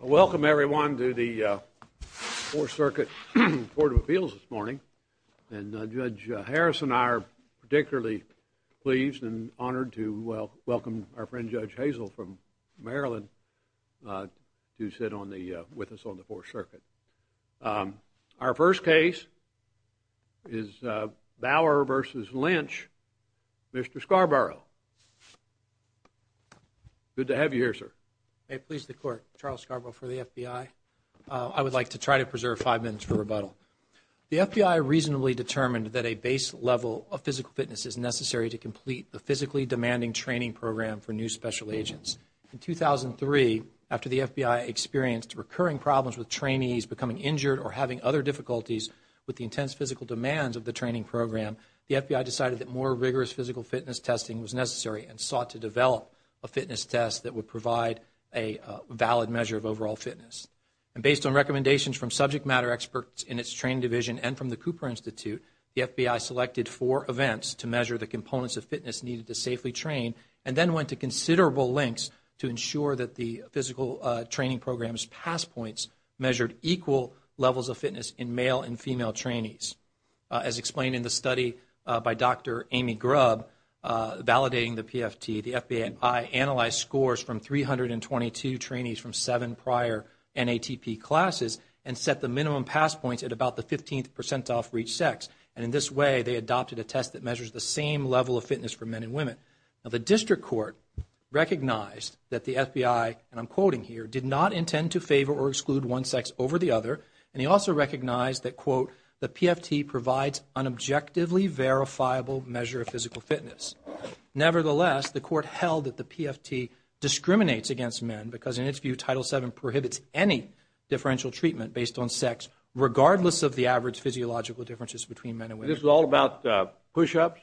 Welcome, everyone, to the Fourth Circuit Court of Appeals this morning. And Judge Harris and I are particularly pleased and honored to welcome our friend Judge Hazel from Maryland to sit with us on the Fourth Circuit. Our first case is Bauer v. Lynch. Mr. Scarborough, good to have you here, sir. May it please the Court, Charles Scarborough for the FBI. I would like to try to preserve five minutes for rebuttal. The FBI reasonably determined that a base level of physical fitness is necessary to complete the physically demanding training program for new special agents. In 2003, after the FBI experienced recurring problems with trainees becoming injured or having other difficulties with the intense physical demands of the training program, the FBI decided that more rigorous physical fitness testing was necessary and sought to develop a fitness test that would provide a valid measure of overall fitness. And based on recommendations from subject matter experts in its training division and from the Cooper Institute, the FBI selected four events to measure the components of fitness needed to safely train and then went to considerable lengths to ensure that the physical training program's passpoints measured equal levels of fitness in male and female trainees. As explained in the study by Dr. Amy Grubb validating the PFT, the FBI analyzed scores from 322 trainees from seven prior NATP classes and set the minimum passpoints at about the 15th percentile for each sex. And in this way, they adopted a test that measures the same level of fitness for men and women. Now, the district court recognized that the FBI, and I'm quoting here, did not intend to favor or exclude one sex over the other. And he also recognized that, quote, the PFT provides an objectively verifiable measure of physical fitness. Nevertheless, the court held that the PFT discriminates against men because, in its view, Title VII prohibits any differential treatment based on sex, regardless of the average physiological differences between men and women. So this is all about push-ups?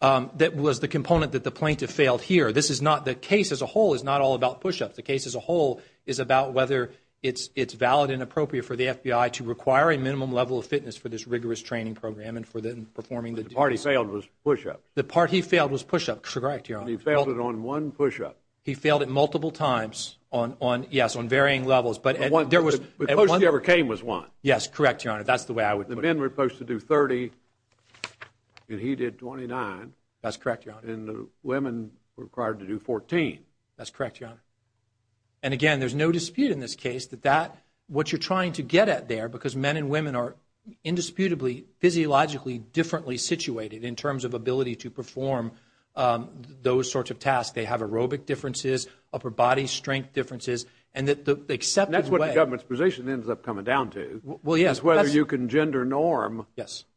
That was the component that the plaintiff failed here. This is not the case as a whole is not all about push-ups. The case as a whole is about whether it's valid and appropriate for the FBI to require a minimum level of fitness for this rigorous training program and for them performing the duties. But the part he failed was push-ups. The part he failed was push-ups. Correct, Your Honor. But he failed it on one push-up. He failed it multiple times on, yes, on varying levels. But one, the closest he ever came was one. Yes, correct, Your Honor. That's the way I would put it. The men were supposed to do 30, and he did 29. That's correct, Your Honor. And the women were required to do 14. That's correct, Your Honor. And, again, there's no dispute in this case that that, what you're trying to get at there, because men and women are indisputably physiologically differently situated in terms of ability to perform those sorts of tasks. They have aerobic differences, upper body strength differences, and that the accepted way That's what the government's position ends up coming down to. Well, yes. Whether you can gender norm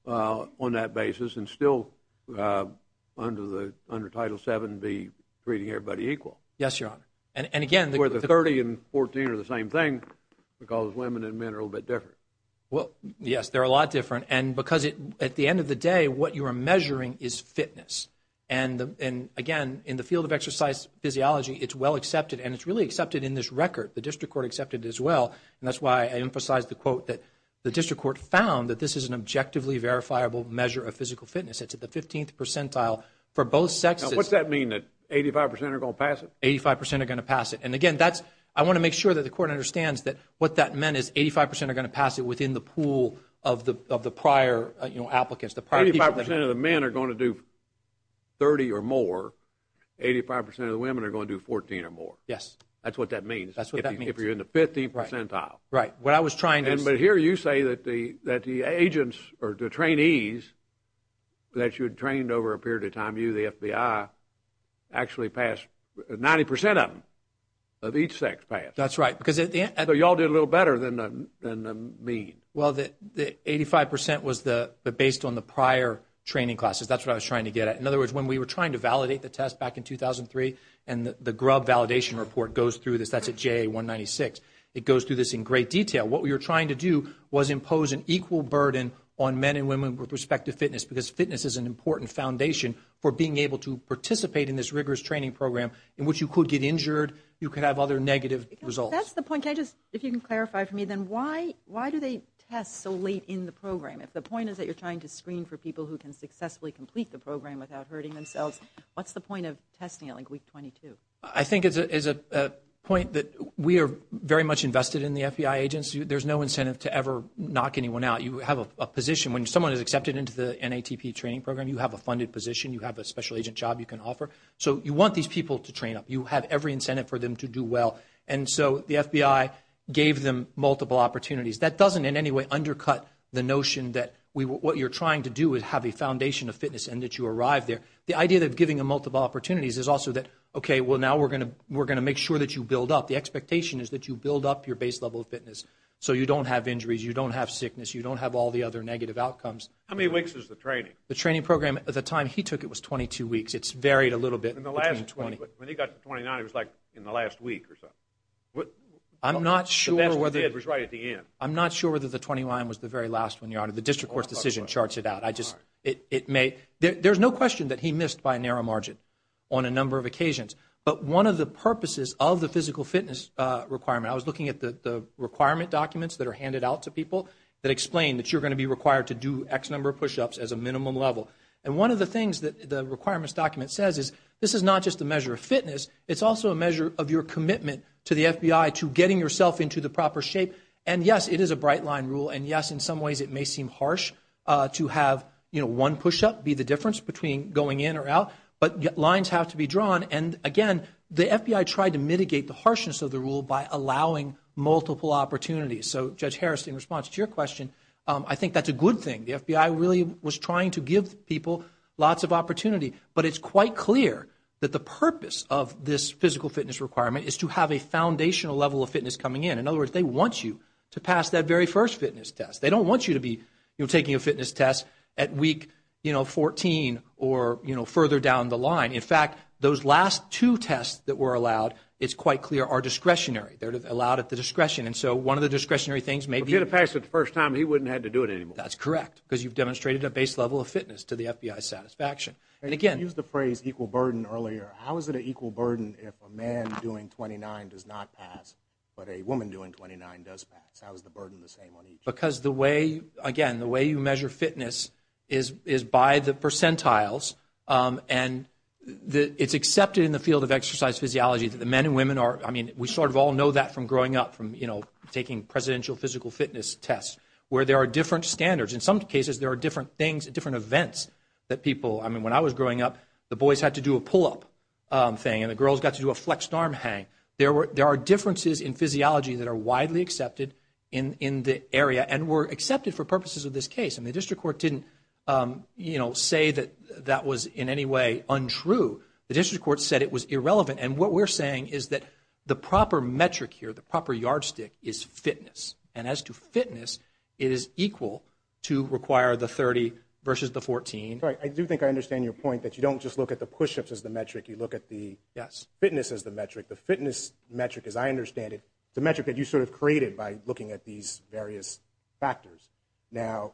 on that basis and still, under Title VII, be treating everybody equal. Yes, Your Honor. And, again, Where the 30 and 14 are the same thing because women and men are a little bit different. Well, yes, they're a lot different. And because, at the end of the day, what you are measuring is fitness. And, again, in the field of exercise physiology, it's well accepted, and it's really accepted in this record. The district court accepted it as well. And that's why I emphasized the quote that the district court found that this is an objectively verifiable measure of physical fitness. It's at the 15th percentile for both sexes. Now, what's that mean, that 85 percent are going to pass it? Eighty-five percent are going to pass it. And, again, that's, I want to make sure that the court understands that what that meant is 85 percent are going to pass it within the pool of the prior, you know, applicants, the prior people. Eighty-five percent of the men are going to do 30 or more. Eighty-five percent of the women are going to do 14 or more. Yes. That's what that means. That's what that means. If you're in the 15th percentile. Right. What I was trying to say. But here you say that the agents or the trainees that you had trained over a period of time, you, the FBI, actually passed. Ninety percent of them of each sex passed. That's right. So you all did a little better than the mean. Well, the 85 percent was based on the prior training classes. That's what I was trying to get at. In other words, when we were trying to validate the test back in 2003, and the Grubb Validation Report goes through this, that's at JA 196. It goes through this in great detail. What we were trying to do was impose an equal burden on men and women with respect to fitness, because fitness is an important foundation for being able to participate in this rigorous training program in which you could get injured, you could have other negative results. That's the point. Can I just, if you can clarify for me, then why do they test so late in the program? If the point is that you're trying to screen for people who can successfully complete the program without hurting themselves, what's the point of testing at like week 22? I think it's a point that we are very much invested in the FBI agents. There's no incentive to ever knock anyone out. You have a position. When someone is accepted into the NATP training program, you have a funded position. You have a special agent job you can offer. So you want these people to train up. You have every incentive for them to do well. And so the FBI gave them multiple opportunities. That doesn't in any way undercut the notion that what you're trying to do is have a foundation of fitness and that you arrive there. The idea of giving them multiple opportunities is also that, okay, well, now we're going to make sure that you build up. The expectation is that you build up your base level of fitness so you don't have injuries, you don't have sickness, you don't have all the other negative outcomes. How many weeks is the training? The training program at the time he took it was 22 weeks. It's varied a little bit between 20. When he got to 29, it was like in the last week or something. I'm not sure whether. I'm not sure whether the 29 was the very last one, Your Honor. The district court's decision charts it out. There's no question that he missed by a narrow margin on a number of occasions. But one of the purposes of the physical fitness requirement, I was looking at the requirement documents that are handed out to people that explain that you're going to be required to do X number of push-ups as a minimum level. And one of the things that the requirements document says is this is not just a measure of fitness. It's also a measure of your commitment to the FBI to getting yourself into the proper shape. And, yes, it is a bright line rule. And, yes, in some ways it may seem harsh to have one push-up be the difference between going in or out. But lines have to be drawn. And, again, the FBI tried to mitigate the harshness of the rule by allowing multiple opportunities. So, Judge Harris, in response to your question, I think that's a good thing. The FBI really was trying to give people lots of opportunity. But it's quite clear that the purpose of this physical fitness requirement is to have a foundational level of fitness coming in. In other words, they want you to pass that very first fitness test. They don't want you to be taking a fitness test at week, you know, 14 or, you know, further down the line. In fact, those last two tests that were allowed, it's quite clear, are discretionary. They're allowed at the discretion. And so one of the discretionary things may be to pass it the first time, he wouldn't have to do it anymore. That's correct because you've demonstrated a base level of fitness to the FBI's satisfaction. And, again. You used the phrase equal burden earlier. How is it an equal burden if a man doing 29 does not pass but a woman doing 29 does pass? How is the burden the same on each? Because the way, again, the way you measure fitness is by the percentiles. And it's accepted in the field of exercise physiology that the men and women are, I mean, we sort of all know that from growing up, from, you know, taking presidential physical fitness tests, where there are different standards. In some cases, there are different things, different events that people, I mean, when I was growing up, the boys had to do a pull-up thing and the girls got to do a flexed arm hang. There are differences in physiology that are widely accepted in the area and were accepted for purposes of this case. And the district court didn't, you know, say that that was in any way untrue. The district court said it was irrelevant. And what we're saying is that the proper metric here, the proper yardstick, is fitness. And as to fitness, it is equal to require the 30 versus the 14. Right. I do think I understand your point that you don't just look at the push-ups as the metric. You look at the fitness as the metric. The fitness metric, as I understand it, the metric that you sort of created by looking at these various factors. Now,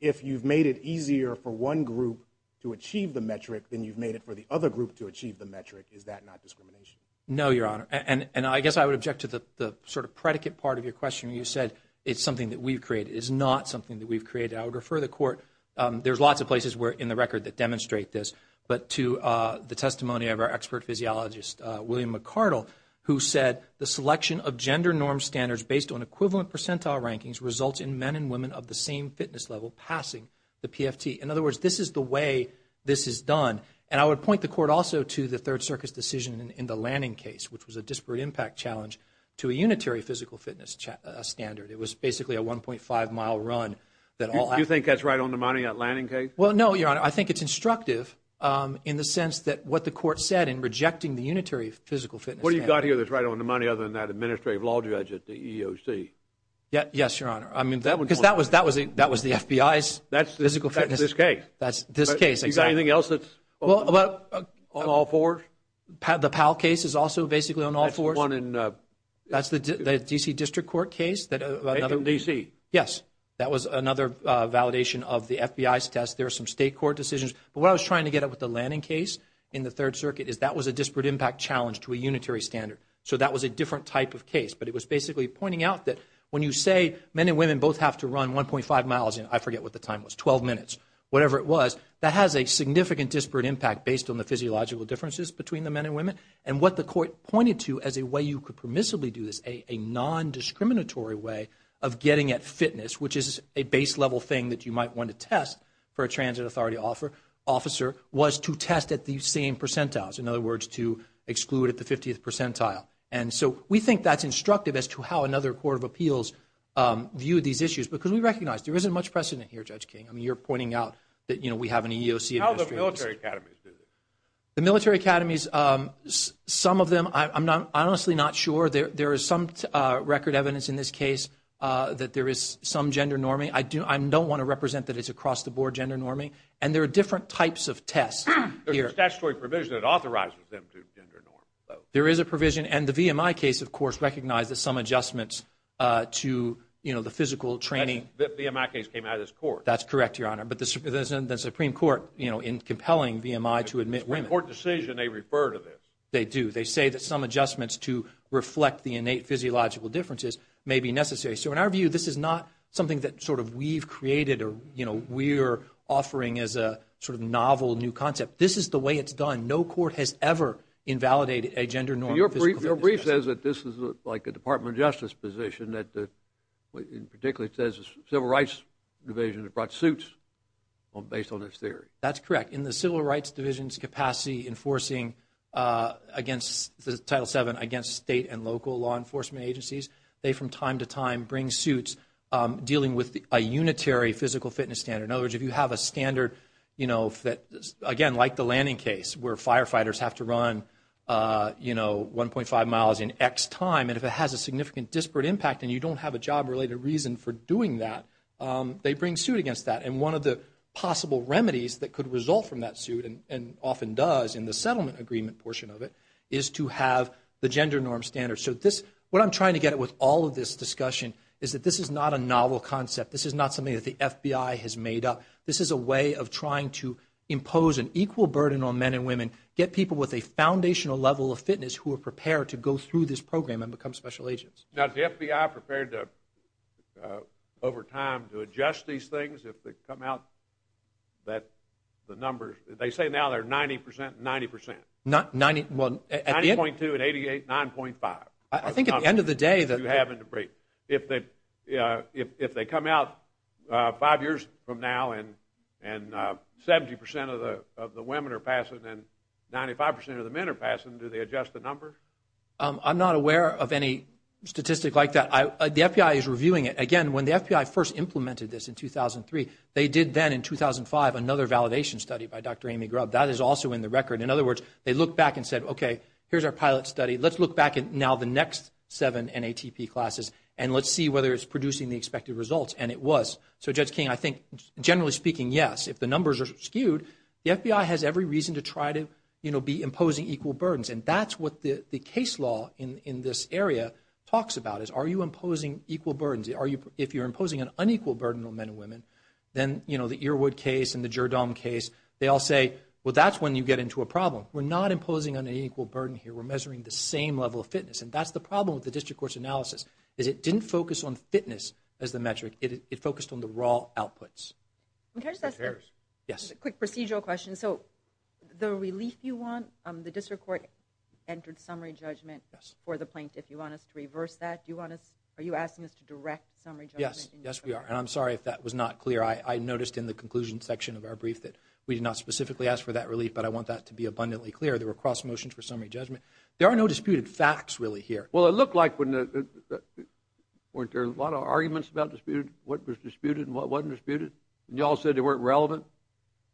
if you've made it easier for one group to achieve the metric, then you've made it for the other group to achieve the metric. Is that not discrimination? No, Your Honor. And I guess I would object to the sort of predicate part of your question. You said it's something that we've created. It is not something that we've created. I would refer the court. There's lots of places in the record that demonstrate this. But to the testimony of our expert physiologist, William McArdle, who said the selection of gender norm standards based on equivalent percentile rankings results in men and women of the same fitness level passing the PFT. In other words, this is the way this is done. And I would point the court also to the Third Circus decision in the Lanning case, which was a disparate impact challenge to a unitary physical fitness standard. It was basically a 1.5-mile run. Do you think that's right on the money, that Lanning case? Well, no, Your Honor. I think it's instructive in the sense that what the court said in rejecting the unitary physical fitness standard. What have you got here that's right on the money other than that administrative law judge at the EEOC? Yes, Your Honor. Because that was the FBI's physical fitness. That's this case. That's this case, exactly. Is there anything else that's on all fours? The Powell case is also basically on all fours. That's the one in? That's the D.C. District Court case. In D.C.? Yes. That was another validation of the FBI's test. There are some state court decisions. But what I was trying to get at with the Lanning case in the Third Circuit is that was a disparate impact challenge to a unitary standard. So that was a different type of case. But it was basically pointing out that when you say men and women both have to run 1.5 miles, and I forget what the time was, 12 minutes, whatever it was, that has a significant disparate impact based on the physiological differences between the men and women. And what the court pointed to as a way you could permissibly do this, a nondiscriminatory way of getting at fitness, which is a base-level thing that you might want to test for a transit authority officer, was to test at the same percentiles, in other words, to exclude at the 50th percentile. And so we think that's instructive as to how another court of appeals viewed these issues because we recognize there isn't much precedent here, Judge King. I mean, you're pointing out that we have an EEOC administration. How do the military academies do this? The military academies, some of them, I'm honestly not sure. There is some record evidence in this case that there is some gender norming. I don't want to represent that it's across-the-board gender norming. And there are different types of tests here. There's a statutory provision that authorizes them to gender norm. There is a provision. And the VMI case, of course, recognizes some adjustments to, you know, the physical training. The VMI case came out of this court. That's correct, Your Honor. But the Supreme Court, you know, in compelling VMI to admit women. It's a court decision. They refer to this. They do. They say that some adjustments to reflect the innate physiological differences may be necessary. So in our view, this is not something that sort of we've created or, you know, we're offering as a sort of novel new concept. This is the way it's done. No court has ever invalidated a gender norm. Your brief says that this is like a Department of Justice position that particularly says the Civil Rights Division has brought suits based on this theory. That's correct. In the Civil Rights Division's capacity enforcing Title VII against state and local law enforcement agencies, they, from time to time, bring suits dealing with a unitary physical fitness standard. In other words, if you have a standard, you know, that, again, like the landing case where firefighters have to run, you know, 1.5 miles in X time, and if it has a significant disparate impact and you don't have a job-related reason for doing that, they bring suit against that. And one of the possible remedies that could result from that suit, and often does in the settlement agreement portion of it, is to have the gender norm standard. So what I'm trying to get at with all of this discussion is that this is not a novel concept. This is not something that the FBI has made up. This is a way of trying to impose an equal burden on men and women, get people with a foundational level of fitness who are prepared to go through this program and become special agents. Now, is the FBI prepared to, over time, to adjust these things if they come out, that the numbers, they say now they're 90% and 90%. 90, well, at the end. 90.2 and 88, 9.5. I think at the end of the day. If they come out five years from now and 70% of the women are passing and 95% of the men are passing, do they adjust the numbers? I'm not aware of any statistic like that. The FBI is reviewing it. Again, when the FBI first implemented this in 2003, they did then in 2005 another validation study by Dr. Amy Grubb. That is also in the record. In other words, they looked back and said, okay, here's our pilot study. Let's look back at now the next seven NATP classes and let's see whether it's producing the expected results. And it was. So, Judge King, I think, generally speaking, yes. If the numbers are skewed, the FBI has every reason to try to be imposing equal burdens. And that's what the case law in this area talks about is are you imposing equal burdens? If you're imposing an unequal burden on men and women, then the Earwood case and the Gerdaum case, they all say, well, that's when you get into a problem. We're not imposing an unequal burden here. We're measuring the same level of fitness. And that's the problem with the district court's analysis is it didn't focus on fitness as the metric. It focused on the raw outputs. Just a quick procedural question. So the relief you want, the district court entered summary judgment for the plaintiff. Do you want us to reverse that? Are you asking us to direct summary judgment? Yes, we are. And I'm sorry if that was not clear. I noticed in the conclusion section of our brief that we did not specifically ask for that relief, but I want that to be abundantly clear. There were cross motions for summary judgment. There are no disputed facts, really, here. Well, it looked like there were a lot of arguments about what was disputed and what wasn't disputed. And you all said they weren't relevant?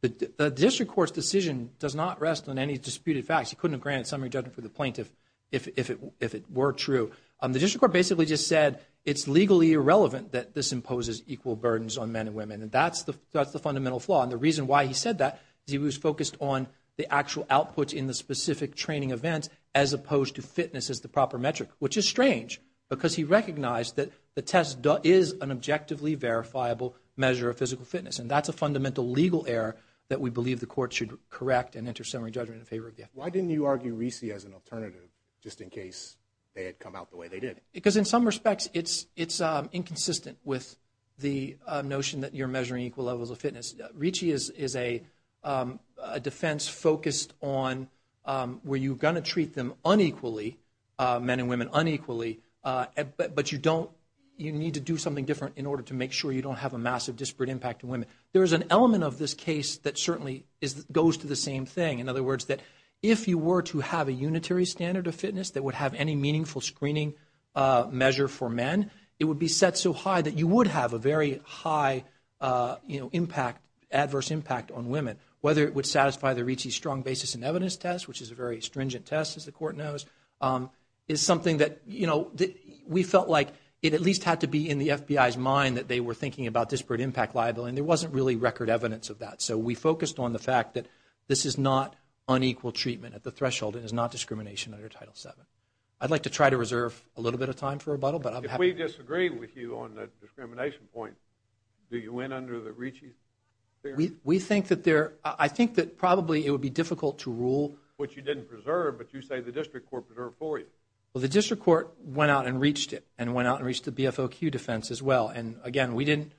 The district court's decision does not rest on any disputed facts. You couldn't have granted summary judgment for the plaintiff if it were true. The district court basically just said it's legally irrelevant that this imposes equal burdens on men and women. And that's the fundamental flaw. And the reason why he said that is he was focused on the actual output in the specific training event as opposed to fitness as the proper metric, which is strange, because he recognized that the test is an objectively verifiable measure of physical fitness. And that's a fundamental legal error that we believe the court should correct and enter summary judgment in favor of. Why didn't you argue RISI as an alternative, just in case they had come out the way they did? Because in some respects, it's inconsistent with the notion that you're measuring equal levels of fitness. RISI is a defense focused on where you're going to treat them unequally, men and women unequally, but you need to do something different in order to make sure you don't have a massive disparate impact on women. There is an element of this case that certainly goes to the same thing. In other words, that if you were to have a unitary standard of fitness that would have any meaningful screening measure for men, it would be set so high that you would have a very high adverse impact on women. Whether it would satisfy the RISI strong basis in evidence test, which is a very stringent test, as the court knows, is something that we felt like it at least had to be in the FBI's mind that they were thinking about disparate impact liability, and there wasn't really record evidence of that. So we focused on the fact that this is not unequal treatment at the threshold and is not discrimination under Title VII. I'd like to try to reserve a little bit of time for rebuttal, but I'm happy to... If we disagree with you on the discrimination point, do you win under the RISI? We think that there... I think that probably it would be difficult to rule... Which you didn't preserve, but you say the district court preserved for you. Well, the district court went out and reached it, and went out and reached the BFOQ defense as well. And again, we didn't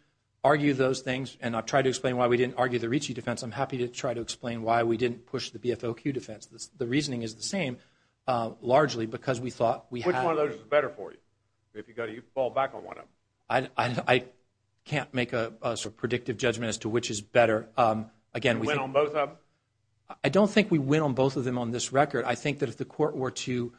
argue those things, and I've tried to explain why we didn't argue the RISI defense. I'm happy to try to explain why we didn't push the BFOQ defense. The reasoning is the same, largely because we thought we had... Which one of those is better for you, if you fall back on one of them? I can't make a predictive judgment as to which is better. You went on both of them? I don't think we went on both of them on this record. I think that if the court were to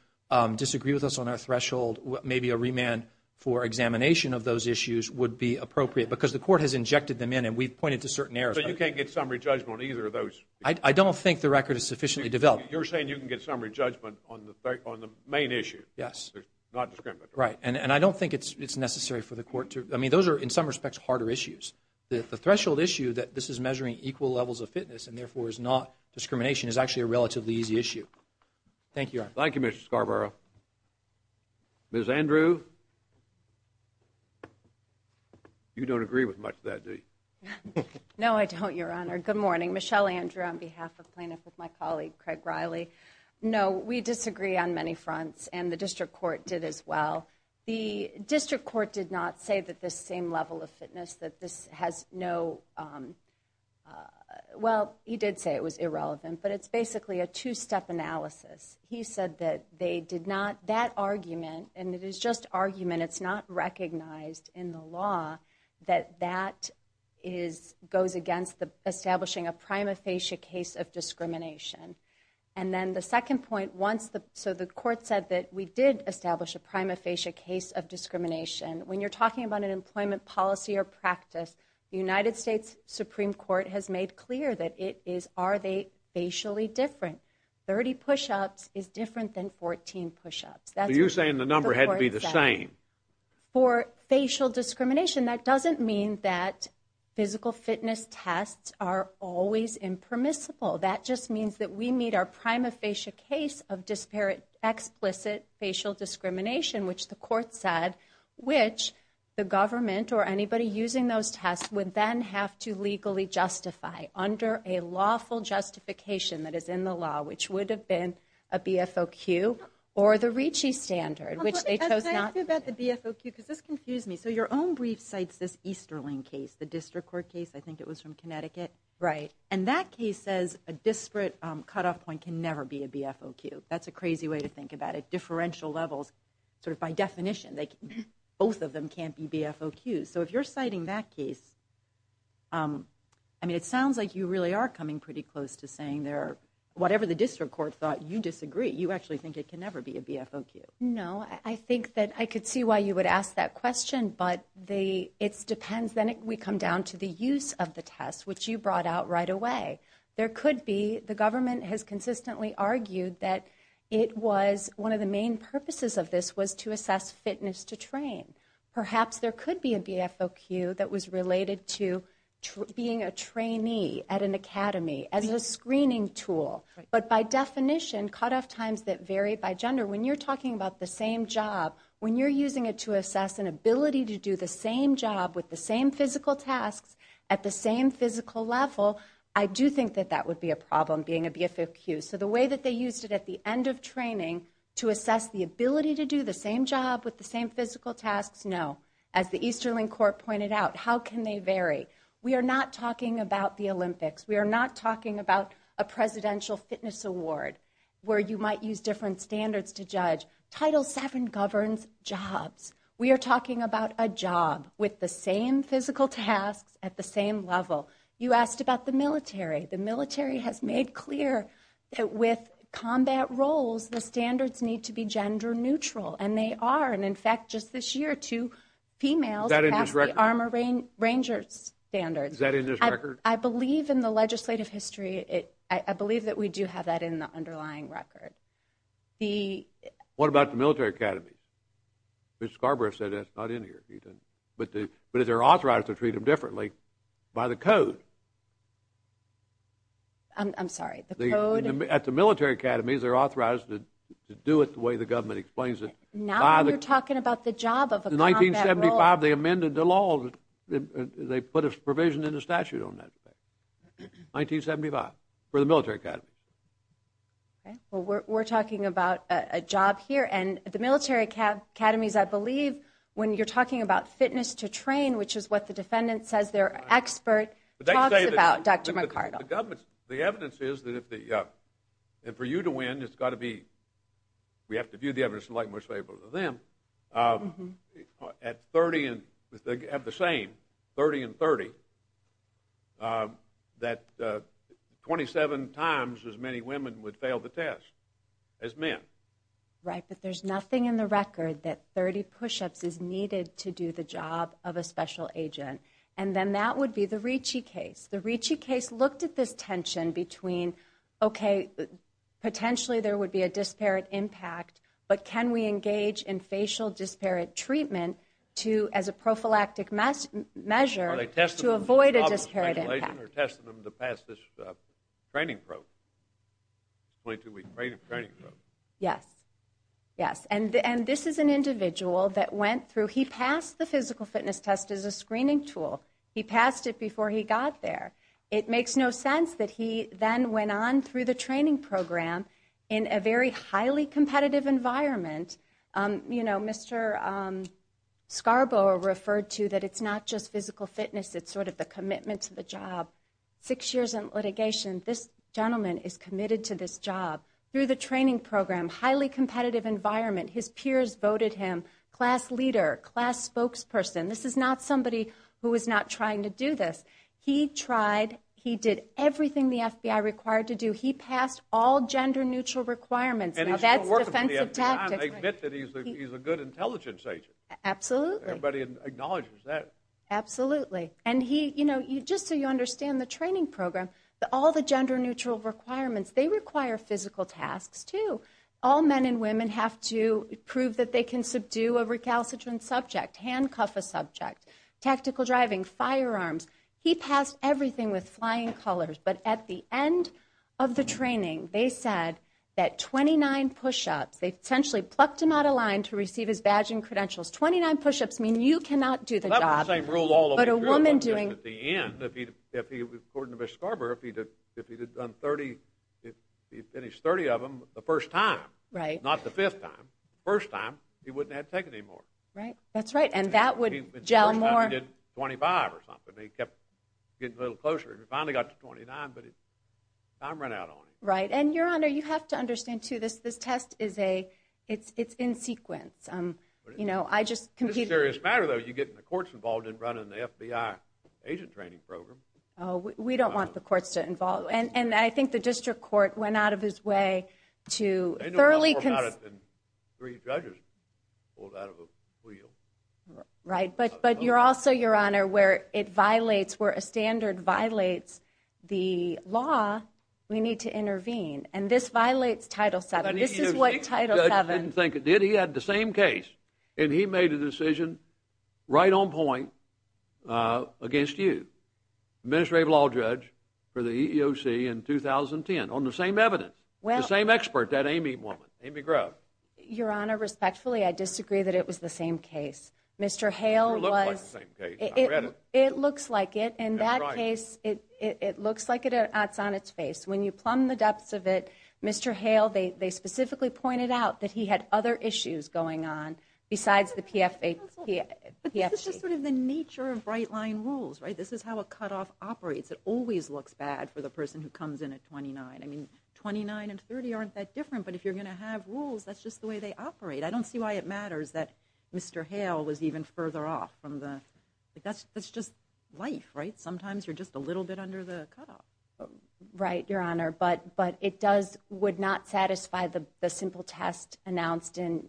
disagree with us on our threshold, maybe a remand for examination of those issues would be appropriate because the court has injected them in, and we've pointed to certain errors. So you can't get summary judgment on either of those? I don't think the record is sufficiently developed. You're saying you can get summary judgment on the main issue? Yes. Not discriminatory? Right, and I don't think it's necessary for the court to... I mean, those are, in some respects, harder issues. The threshold issue that this is measuring equal levels of fitness and therefore is not discrimination is actually a relatively easy issue. Thank you, Your Honor. Thank you, Mr. Scarborough. Ms. Andrew? You don't agree with much of that, do you? No, I don't, Your Honor. Good morning. Michelle Andrew on behalf of plaintiff with my colleague, Craig Riley. No, we disagree on many fronts, and the district court did as well. The district court did not say that this same level of fitness, that this has no... Well, he did say it was irrelevant, but it's basically a two-step analysis. He said that they did not... That argument, and it is just argument, it's not recognized in the law that that goes against establishing a prima facie case of discrimination. And then the second point, once the... So the court said that we did establish a prima facie case of discrimination. When you're talking about an employment policy or practice, the United States Supreme Court has made clear that it is, are they facially different? 30 push-ups is different than 14 push-ups. Are you saying the number had to be the same? For facial discrimination, that doesn't mean that physical fitness tests are always impermissible. That just means that we meet our prima facie case of explicit facial discrimination, which the court said, which the government or anybody using those tests would then have to legally justify under a lawful justification that is in the law, which would have been a BFOQ or the Ricci standard, which they chose not... Can I ask you about the BFOQ? Because this confused me. So your own brief cites this Easterling case, the district court case. I think it was from Connecticut. And that case says a disparate cutoff point can never be a BFOQ. That's a crazy way to think about it. Differential levels, sort of by definition, both of them can't be BFOQs. So if you're citing that case, I mean it sounds like you really are coming pretty close to saying whatever the district court thought, you disagree. You actually think it can never be a BFOQ. No. I think that I could see why you would ask that question, but it depends. Then we come down to the use of the test, which you brought out right away. There could be. The government has consistently argued that it was one of the main purposes of this was to assess fitness to train. Perhaps there could be a BFOQ that was related to being a trainee at an academy, as a screening tool. But by definition, cutoff times that vary by gender, when you're talking about the same job, when you're using it to assess an ability to do the same job with the same physical tasks at the same physical level, I do think that that would be a problem, being a BFOQ. So the way that they used it at the end of training to assess the ability to do the same job with the same physical tasks, no. As the Easterling Court pointed out, how can they vary? We are not talking about the Olympics. We are not talking about a presidential fitness award where you might use different standards to judge. Title VII governs jobs. We are talking about a job with the same physical tasks at the same level. You asked about the military. The military has made clear that with combat roles, the standards need to be gender neutral, and they are. In fact, just this year, two females passed the Armored Ranger standards. Is that in this record? I believe in the legislative history. I believe that we do have that in the underlying record. What about the military academies? Ms. Scarborough said that's not in here. But they're authorized to treat them differently by the code. I'm sorry, the code? At the military academies, they're authorized to do it the way the government explains it. Now you're talking about the job of a combat role. In 1975, they amended the law. They put a provision in the statute on that. 1975 for the military academy. Okay, well, we're talking about a job here. And the military academies, I believe, when you're talking about fitness to train, which is what the defendant says they're an expert, talks about Dr. McArdle. The evidence is that for you to win, it's got to be, we have to view the evidence in the light most favorable to them. At 30 and the same, 30 and 30, that 27 times as many women would fail the test as men. Right, but there's nothing in the record that 30 push-ups is needed to do the job of a special agent. And then that would be the Ricci case. The Ricci case looked at this tension between, okay, potentially there would be a disparate impact, but can we engage in facial disparate treatment to, as a prophylactic measure, to avoid a disparate impact. Are they testing them to pass this training program? 22-week training program. Yes, yes, and this is an individual that went through, he passed the physical fitness test as a screening tool. He passed it before he got there. It makes no sense that he then went on through the training program in a very highly competitive environment. You know, Mr. Scarborough referred to that it's not just physical fitness, it's sort of the commitment to the job. Six years in litigation, this gentleman is committed to this job. Through the training program, highly competitive environment. His peers voted him class leader, class spokesperson. This is not somebody who is not trying to do this. He tried. He did everything the FBI required to do. He passed all gender-neutral requirements. Now, that's defensive tactics. They admit that he's a good intelligence agent. Absolutely. Everybody acknowledges that. Absolutely. And he, you know, just so you understand the training program, all the gender-neutral requirements, they require physical tasks too. All men and women have to prove that they can subdue a recalcitrant subject, handcuff a subject, tactical driving, firearms. He passed everything with flying colors. But at the end of the training, they said that 29 push-ups, they essentially plucked him out of line to receive his badge and credentials. Twenty-nine push-ups mean you cannot do the job. That's the same rule all over again. But a woman doing. At the end, according to Mr. Scarborough, if he had finished 30 of them the first time, not the fifth time, the first time, he wouldn't have had to take any more. Right. That's right. And that would gel more. The first time he did 25 or something. He kept getting a little closer. He finally got to 29, but time ran out on him. Right. And, Your Honor, you have to understand, too, this test is in sequence. You know, I just competed. This is a serious matter, though. You're getting the courts involved in running the FBI agent training program. Oh, we don't want the courts to involve. And I think the district court went out of its way to thoroughly... They know more about it than three judges pulled out of a wheel. Right. But you're also, Your Honor, where it violates, where a standard violates the law, we need to intervene. And this violates Title VII. This is what Title VII. I didn't think it did. He had the same case, and he made a decision right on point against you, the Administrative Law Judge for the EEOC in 2010, on the same evidence, the same expert, that Amy woman, Amy Grove. Your Honor, respectfully, I disagree that it was the same case. Mr. Hale was... It looked like the same case. I read it. It looks like it. In that case, it looks like it's on its face. When you plumb the depths of it, Mr. Hale, they specifically pointed out that he had other issues going on besides the PFA... But this is just sort of the nature of right-line rules, right? This is how a cutoff operates. It always looks bad for the person who comes in at 29. I mean, 29 and 30 aren't that different, but if you're going to have rules, that's just the way they operate. I don't see why it matters that Mr. Hale was even further off from the... That's just life, right? Sometimes you're just a little bit under the cutoff. Right, Your Honor, but it does... would not satisfy the simple test announced in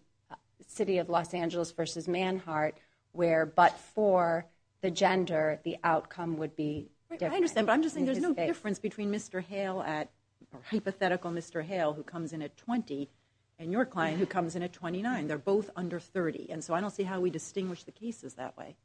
City of Los Angeles v. Manhart where but for the gender, the outcome would be different. I understand, but I'm just saying there's no difference between Mr. Hale at... They're both under 30, and so I don't see how we distinguish the cases that way.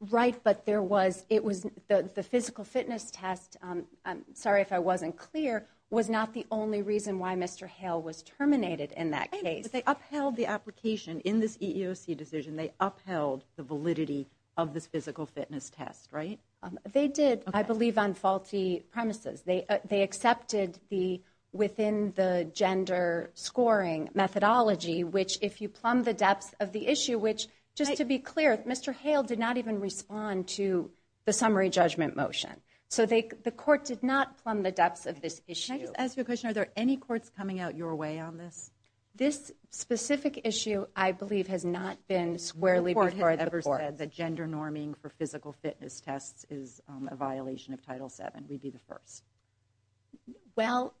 Right, but there was... The physical fitness test, I'm sorry if I wasn't clear, was not the only reason why Mr. Hale was terminated in that case. But they upheld the application in this EEOC decision. They upheld the validity of this physical fitness test, right? They did, I believe, on faulty premises. They accepted the within the gender scoring methodology, which if you plumb the depths of the issue, which just to be clear, Mr. Hale did not even respond to the summary judgment motion. So the court did not plumb the depths of this issue. Can I just ask you a question? Are there any courts coming out your way on this? This specific issue, I believe, has not been squarely before the court. No court has ever said that gender norming for physical fitness tests is a violation of Title VII. We'd be the first. Well,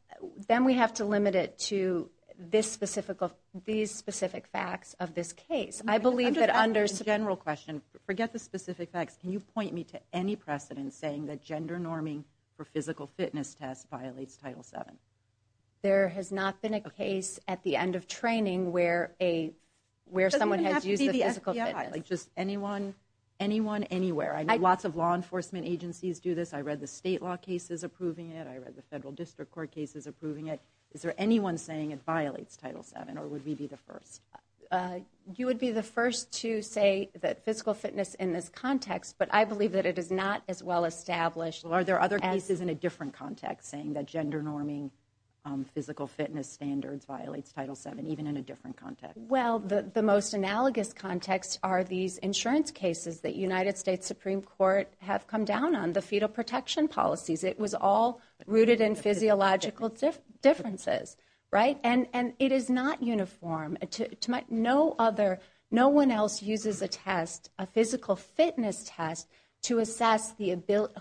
then we have to limit it to these specific facts of this case. I believe that under... I'm just asking a general question. Forget the specific facts. Can you point me to any precedent saying that gender norming for physical fitness tests violates Title VII? There has not been a case at the end of training where someone has used the physical fitness. It doesn't even have to be the FBI. Just anyone, anywhere. I know lots of law enforcement agencies do this. I read the state law cases approving it. I read the federal district court cases approving it. Is there anyone saying it violates Title VII, or would we be the first? You would be the first to say that physical fitness in this context, but I believe that it is not as well established. Are there other cases in a different context saying that gender norming physical fitness standards violates Title VII, even in a different context? Well, the most analogous context are these insurance cases that United States Supreme Court have come down on, the fetal protection policies. It was all rooted in physiological differences, right? And it is not uniform. No one else uses a test, a physical fitness test, to assess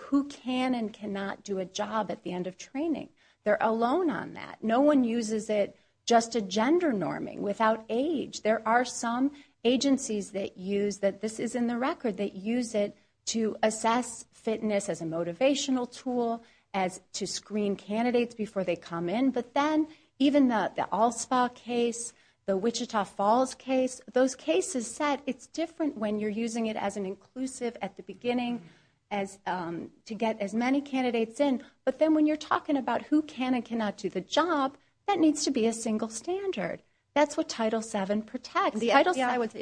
who can and cannot do a job at the end of training. They're alone on that. No one uses it just to gender norming, without age. There are some agencies that use, that this is in the record, that use it to assess fitness as a motivational tool, as to screen candidates before they come in. But then, even the All Spa case, the Wichita Falls case, those cases said it's different when you're using it as an inclusive at the beginning to get as many candidates in. But then when you're talking about who can and cannot do the job, that needs to be a single standard. That's what Title VII protects. If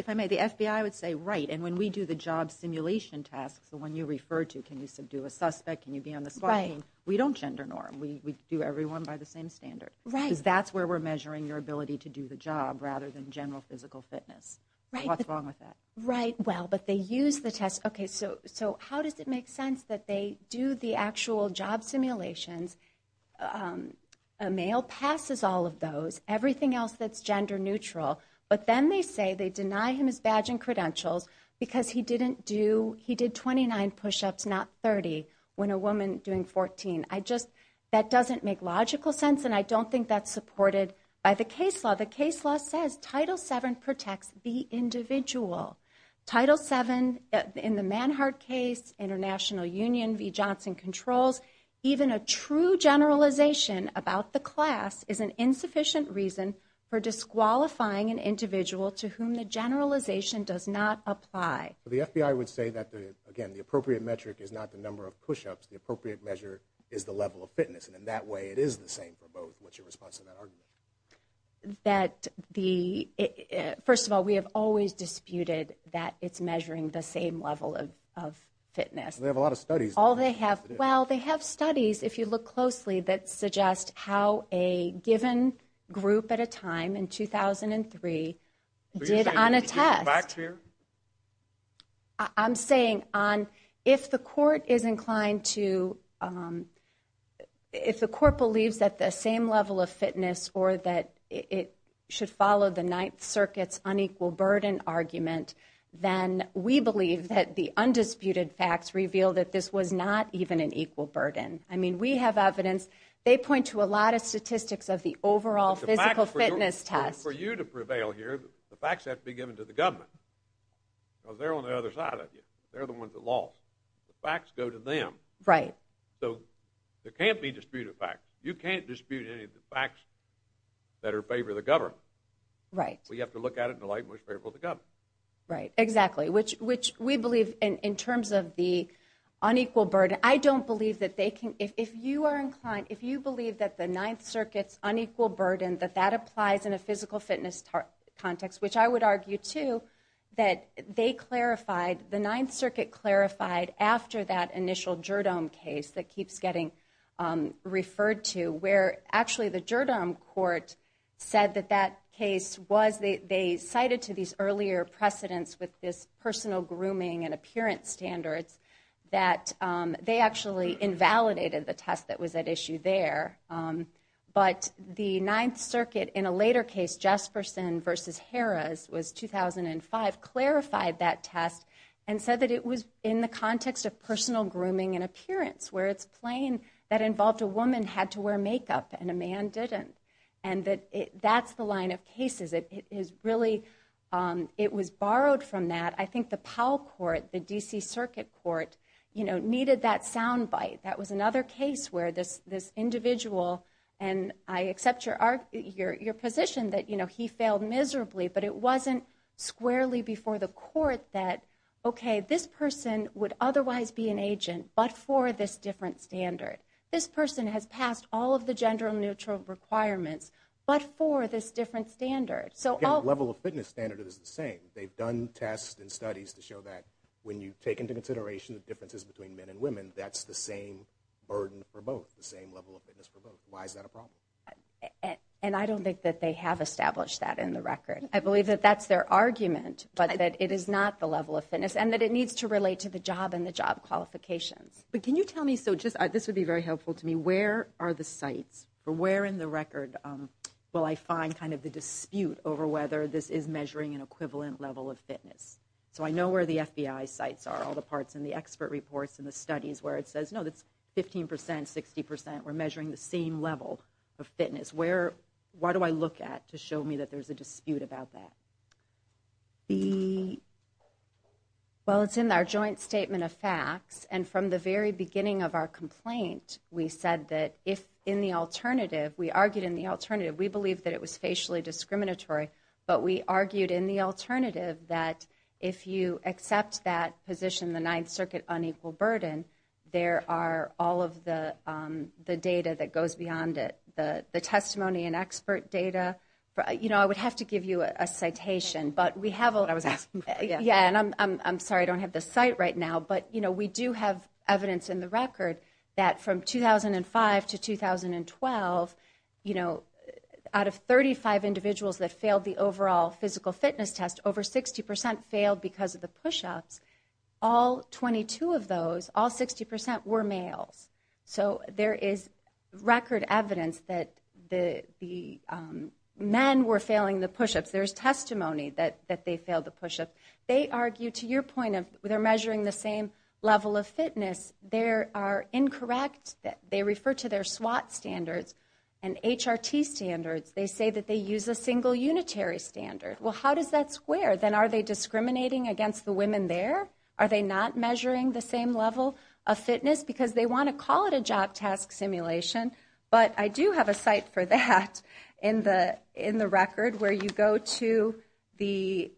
I may, the FBI would say, right, and when we do the job simulation tasks, the one you refer to, can you subdue a suspect, can you be on the spot team, we don't gender norm. We do everyone by the same standard. Because that's where we're measuring your ability to do the job, rather than general physical fitness. What's wrong with that? Right, well, but they use the test. Okay, so how does it make sense that they do the actual job simulations, a male passes all of those, everything else that's gender neutral. But then they say they deny him his badge and credentials because he didn't do, he did 29 push-ups, not 30, when a woman doing 14. I just, that doesn't make logical sense, and I don't think that's supported by the case law. The case law says Title VII protects the individual. Title VII, in the Manhart case, International Union v. Johnson Controls, even a true generalization about the class is an insufficient reason for disqualifying an individual to whom the generalization does not apply. The FBI would say that, again, the appropriate metric is not the number of push-ups, the appropriate measure is the level of fitness. And in that way, it is the same for both. That the, first of all, we have always disputed that it's measuring the same level of fitness. They have a lot of studies. All they have, well, they have studies, if you look closely, that suggest how a given group at a time, in 2003, did on a test. I'm saying on, if the court is inclined to, if the court believes that the same level of fitness or that it should follow the Ninth Circuit's unequal burden argument, then we believe that the undisputed facts reveal that this was not even an equal burden. I mean, we have evidence, they point to a lot of statistics of the overall physical fitness test. For you to prevail here, the facts have to be given to the government. Because they're on the other side of you. They're the ones that lost. The facts go to them. Right. So, there can't be disputed facts. You can't dispute any of the facts that are in favor of the government. Right. Well, you have to look at it in the light in which favor of the government. Right, exactly. Which we believe in terms of the unequal burden. I don't believe that they can, if you are inclined, if you believe that the Ninth Circuit's unequal burden, that that applies in a physical fitness context, which I would argue, too, that they clarified, the Ninth Circuit clarified after that initial Jerdome case that keeps getting referred to. Where, actually, the Jerdome court said that that case was, they cited to these earlier precedents with this personal grooming and appearance standards, that they actually invalidated the test that was at issue there. But the Ninth Circuit, in a later case, Jesperson v. Harris, was 2005, clarified that test and said that it was in the context of personal grooming and appearance. Where it's plain that involved a woman had to wear makeup and a man didn't. And that's the line of cases. It is really, it was borrowed from that. I think the Powell court, the D.C. Circuit court, you know, needed that sound bite. That was another case where this individual, and I accept your position that, you know, he failed miserably, but it wasn't squarely before the court that, okay, this person would otherwise be an agent, but for this different standard. This person has passed all of the gender-neutral requirements, but for this different standard. The level of fitness standard is the same. They've done tests and studies to show that when you take into consideration the differences between men and women, that's the same burden for both, the same level of fitness for both. Why is that a problem? And I don't think that they have established that in the record. I believe that that's their argument, but that it is not the level of fitness, and that it needs to relate to the job and the job qualifications. But can you tell me, so just, this would be very helpful to me, where are the sites, or where in the record will I find kind of the dispute over whether this is measuring an equivalent level of fitness? So I know where the FBI sites are, all the parts in the expert reports and the studies where it says, no, that's 15%, 60%, we're measuring the same level of fitness. Where, why do I look at to show me that there's a dispute about that? The, well, it's in our joint statement of facts, and from the very beginning of our complaint, we said that if, in the alternative, we argued in the alternative, we believe that it was facially discriminatory, but we argued in the alternative that if you accept that position, the Ninth Circuit unequal burden, there are all of the data that goes beyond it. The testimony and expert data, you know, I would have to give you a citation, but we have a, yeah, and I'm sorry, I don't have the site right now, but, you know, we do have evidence in the record that from 2005 to 2012, you know, out of 35 individuals that failed the overall physical fitness test, over 60% failed because of the pushups. All 22 of those, all 60% were males. So there is record evidence that the men were failing the pushups. There's testimony that they failed the pushup. They argue, to your point of, they're measuring the same level of fitness. They are incorrect. They refer to their SWAT standards and HRT standards. They say that they use a single unitary standard. Well, how does that square? Then are they discriminating against the women there? Are they not measuring the same level of fitness because they want to call it a job task simulation? But I do have a site for that in the record where you go to the,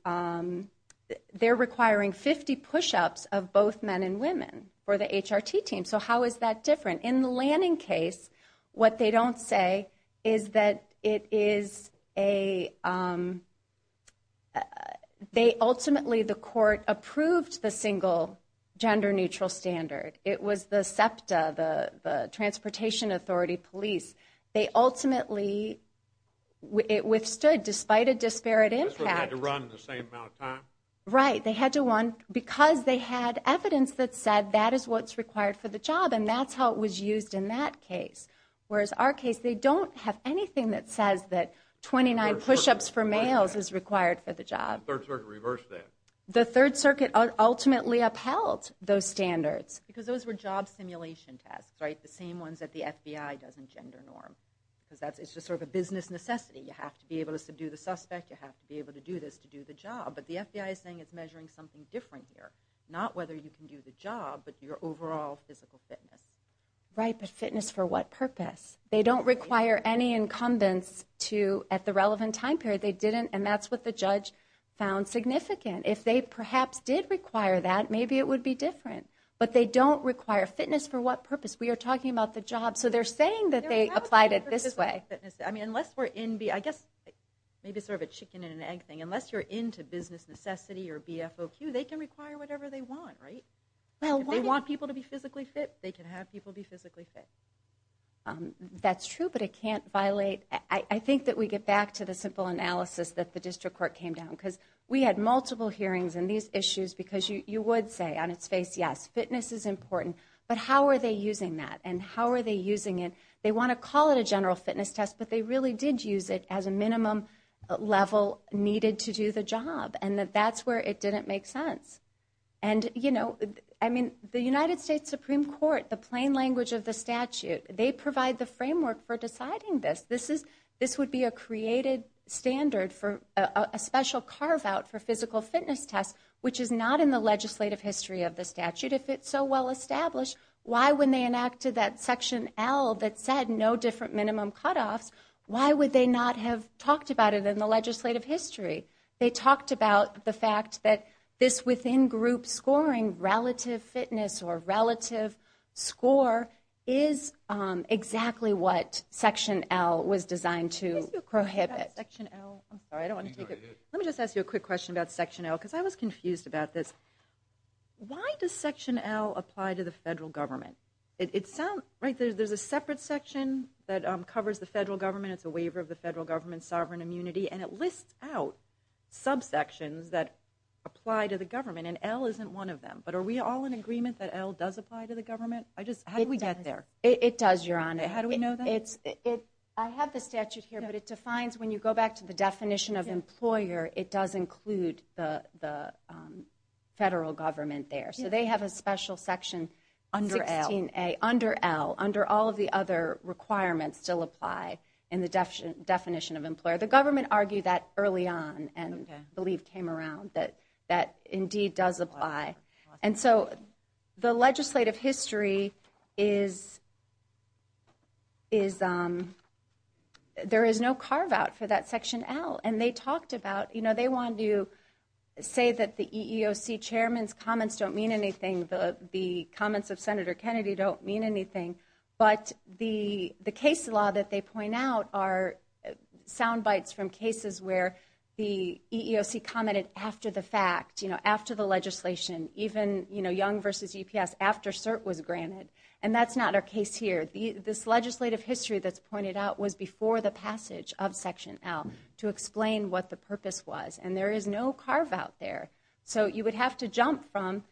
they're requiring 50 pushups of both men and women for the HRT team. So how is that different? In the Lanning case, what they don't say is that it is a, they ultimately, the court approved the single gender neutral standard. It was the SEPTA, the Transportation Authority Police. They ultimately, it withstood despite a disparate impact. That's why they had to run the same amount of time? Right. They had to run, because they had evidence that said that is what's required for the job and that's how it was used in that case. Whereas our case, they don't have anything that says that 29 pushups for males is required for the job. The Third Circuit reversed that. The Third Circuit ultimately upheld those standards. Because those were job simulation tasks, right? The same ones that the FBI does in gender norm. Because that's, it's just sort of a business necessity. You have to be able to do the suspect. You have to be able to do this to do the job. But the FBI is saying it's measuring something different here. Not whether you can do the job, but your overall physical fitness. Right, but fitness for what purpose? They don't require any incumbents to, at the relevant time period. They didn't, and that's what the judge found significant. If they perhaps did require that, maybe it would be different. But they don't require fitness for what purpose? We are talking about the job. So they're saying that they applied it this way. I mean, unless we're in, I guess, maybe sort of a chicken and an egg thing. Unless you're into business necessity or BFOQ, they can require whatever they want, right? If they want people to be physically fit, they can have people be physically fit. That's true, but it can't violate. I think that we get back to the simple analysis that the District Court came down. Because we had multiple hearings on these issues. Because you would say on its face, yes, fitness is important. But how are they using that? And how are they using it? They want to call it a general fitness test, but they really did use it as a minimum level needed to do the job. And that's where it didn't make sense. And, you know, I mean, the United States Supreme Court, the plain language of the statute, they provide the framework for deciding this. This would be a created standard for a special carve-out for physical fitness tests, which is not in the legislative history of the statute if it's so well established. Why, when they enacted that Section L that said no different minimum cutoffs, why would they not have talked about it in the legislative history? They talked about the fact that this within-group scoring relative fitness or relative score is exactly what Section L was designed to prohibit. Section L, I'm sorry, I don't want to take it. Let me just ask you a quick question about Section L, because I was confused about this. Why does Section L apply to the federal government? There's a separate section that covers the federal government. It's a waiver of the federal government's sovereign immunity, and it lists out subsections that apply to the government, and L isn't one of them. But are we all in agreement that L does apply to the government? How do we get there? It does, Your Honor. How do we know that? I have the statute here, but it defines when you go back to the definition of employer, it does include the federal government there. So they have a special Section 16A under L, under all of the other requirements still apply in the definition of employer. The government argued that early on and I believe came around that indeed does apply. And so the legislative history is there is no carve-out for that Section L, and they talked about, you know, they wanted to say that the EEOC chairman's comments don't mean anything, the comments of Senator Kennedy don't mean anything, but the case law that they point out are sound bites from cases where the EEOC commented after the fact, you know, after the legislation, even, you know, Young v. UPS after CERT was granted, and that's not our case here. This legislative history that's pointed out was before the passage of Section L to explain what the purpose was, and there is no carve-out there. So you would have to jump from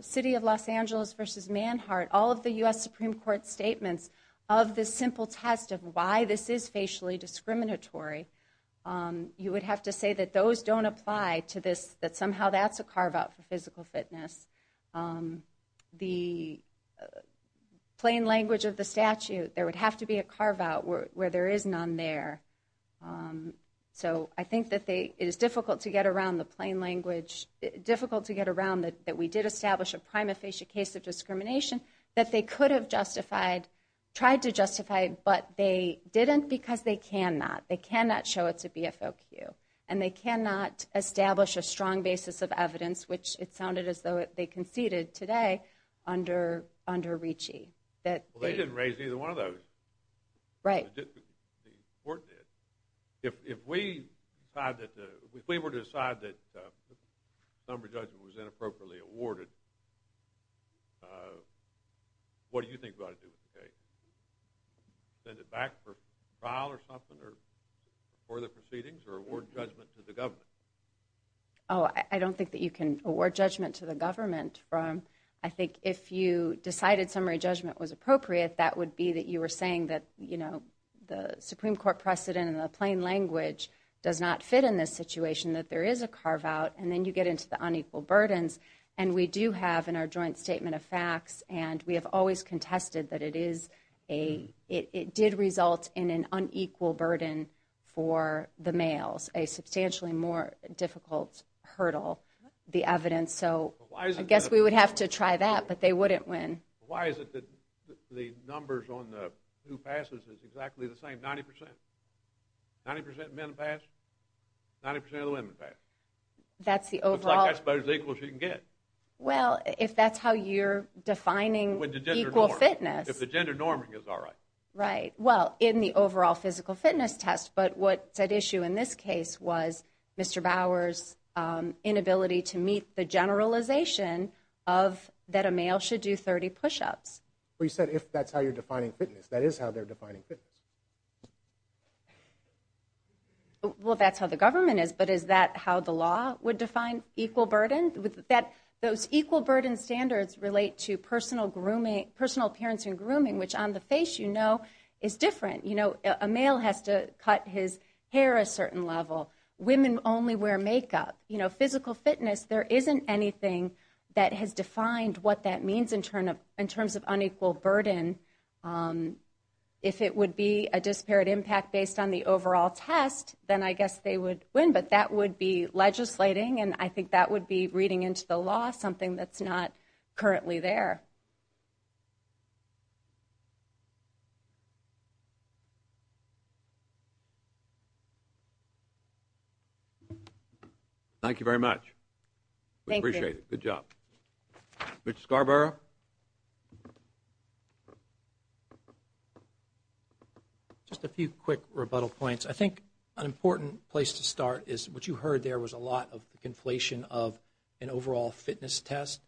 city of Los Angeles v. Manhart, all of the U.S. Supreme Court statements of this simple test of why this is facially discriminatory, you would have to say that those don't apply to this, that somehow that's a carve-out for physical fitness. The plain language of the statute, there would have to be a carve-out where there is none there. So I think that it is difficult to get around the plain language, difficult to get around that we did establish a prima facie case of discrimination, that they could have justified, tried to justify, but they didn't because they cannot. They cannot show it's a BFOQ, and they cannot establish a strong basis of evidence, which it sounded as though they conceded today under Ricci. Well, they didn't raise either one of those. Right. The court did. If we were to decide that the summary judgment was inappropriately awarded, what do you think we ought to do with the case? Send it back for trial or something or for the proceedings or award judgment to the government? Oh, I don't think that you can award judgment to the government. I think if you decided summary judgment was appropriate, that would be that you were saying that the Supreme Court precedent and the plain language does not fit in this situation, that there is a carve-out, and then you get into the unequal burdens. And we do have in our joint statement of facts, and we have always contested that it did result in an unequal burden for the males, and that was a substantially more difficult hurdle, the evidence. So I guess we would have to try that, but they wouldn't win. Why is it that the numbers on who passes is exactly the same, 90%? 90% of men pass? 90% of the women pass? Looks like that's about as equal as you can get. Well, if that's how you're defining equal fitness. If the gender norming is all right. Right. Well, in the overall physical fitness test, but what's at issue in this case was Mr. Bauer's inability to meet the generalization that a male should do 30 push-ups. Well, you said if that's how you're defining fitness. That is how they're defining fitness. Well, that's how the government is, but is that how the law would define equal burden? Those equal burden standards relate to personal appearance and grooming, which on the face, you know, is different. You know, a male has to cut his hair a certain level. Women only wear makeup. You know, physical fitness, there isn't anything that has defined what that means in terms of unequal burden. If it would be a disparate impact based on the overall test, then I guess they would win, but that would be legislating, and I think that would be reading into the law something that's not currently there. Thank you very much. We appreciate it. Good job. Mr. Scarborough? Just a few quick rebuttal points. I think an important place to start is what you heard there was a lot of the conflation of an overall fitness test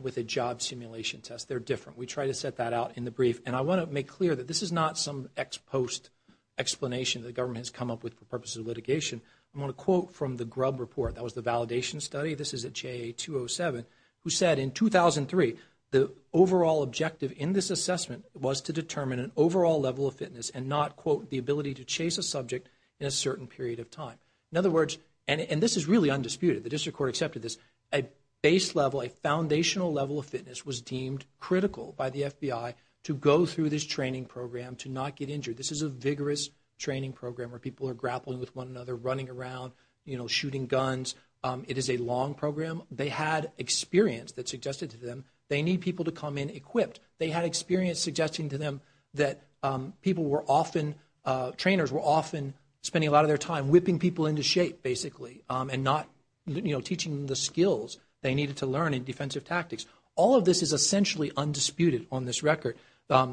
with a job simulation test. They're different. We try to set that out in the brief, and I want to make clear that this is not some ex-post explanation the government has come up with for purposes of litigation. I want to quote from the Grubb report. That was the validation study. This is at JA-207, who said in 2003, the overall objective in this assessment was to determine an overall level of fitness and not, quote, the ability to chase a subject in a certain period of time. In other words, and this is really undisputed, the district court accepted this, a base level, a foundational level of fitness was deemed critical by the FBI to go through this training program to not get injured. This is a vigorous training program where people are grappling with one another, running around, you know, shooting guns. It is a long program. They had experience that suggested to them they need people to come in equipped. They had experience suggesting to them that people were often, trainers were often spending a lot of their time whipping people into shape, basically, and not, you know, teaching them the skills they needed to learn in defensive tactics. All of this is essentially undisputed on this record.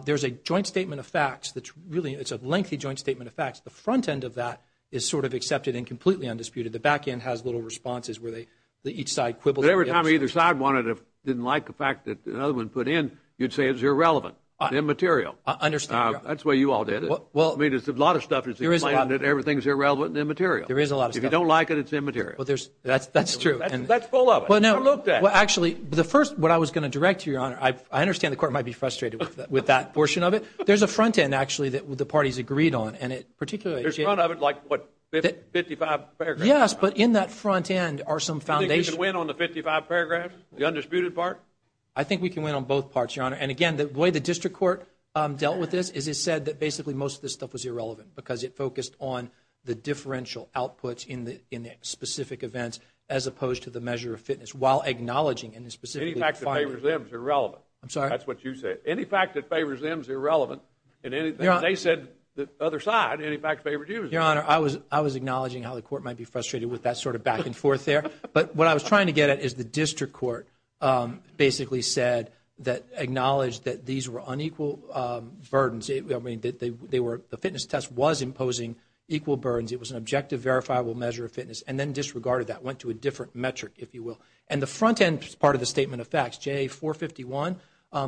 There's a joint statement of facts that's really, it's a lengthy joint statement of facts. The front end of that is sort of accepted and completely undisputed. The back end has little responses where each side quibbles. Every time either side wanted to, didn't like the fact that another one put in, you'd say it's irrelevant, immaterial. I understand. That's the way you all did it. I mean, there's a lot of stuff that's implied that everything's irrelevant and immaterial. There is a lot of stuff. If you don't like it, it's immaterial. That's true. That's full of it. I looked at it. Well, actually, the first, what I was going to direct to you, Your Honor, I understand the court might be frustrated with that portion of it. There's a front end, actually, that the parties agreed on. There's none of it like, what, 55 paragraphs? Yes, but in that front end are some foundations. Do you think we can win on the 55 paragraphs, the undisputed part? I think we can win on both parts, Your Honor. And, again, the way the district court dealt with this is it said that, basically, most of this stuff was irrelevant because it focused on the differential outputs in the specific events as opposed to the measure of fitness while acknowledging in the specific findings. Any fact that favors them is irrelevant. I'm sorry? That's what you said. Any fact that favors them is irrelevant. They said the other side. Any fact that favors you is irrelevant. Your Honor, I was acknowledging how the court might be frustrated with that sort of back and forth there. But what I was trying to get at is the district court basically said that, acknowledged that these were unequal burdens. The fitness test was imposing equal burdens. It was an objective, verifiable measure of fitness, and then disregarded that, went to a different metric, if you will. And the front end part of the statement of facts, JA 451,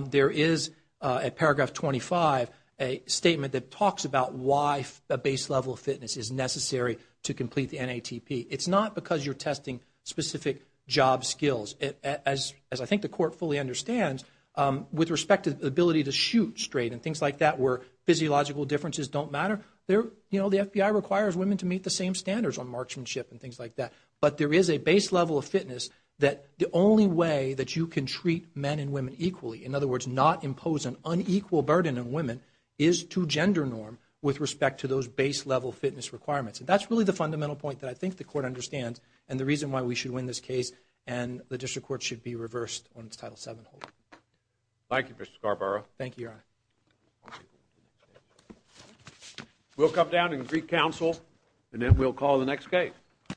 there is, at paragraph 25, a statement that talks about why a base level of fitness is necessary to complete the NATP. It's not because you're testing specific job skills. As I think the court fully understands, with respect to the ability to shoot straight and things like that where physiological differences don't matter, the FBI requires women to meet the same standards on marksmanship and things like that. But there is a base level of fitness that the only way that you can treat men and women equally, in other words, not impose an unequal burden on women, is to gender norm with respect to those base level fitness requirements. And that's really the fundamental point that I think the court understands and the reason why we should win this case and the district court should be reversed on its Title VII hold. Thank you, Mr. Scarborough. Thank you, Your Honor. We'll come down and greet counsel, and then we'll call the next case.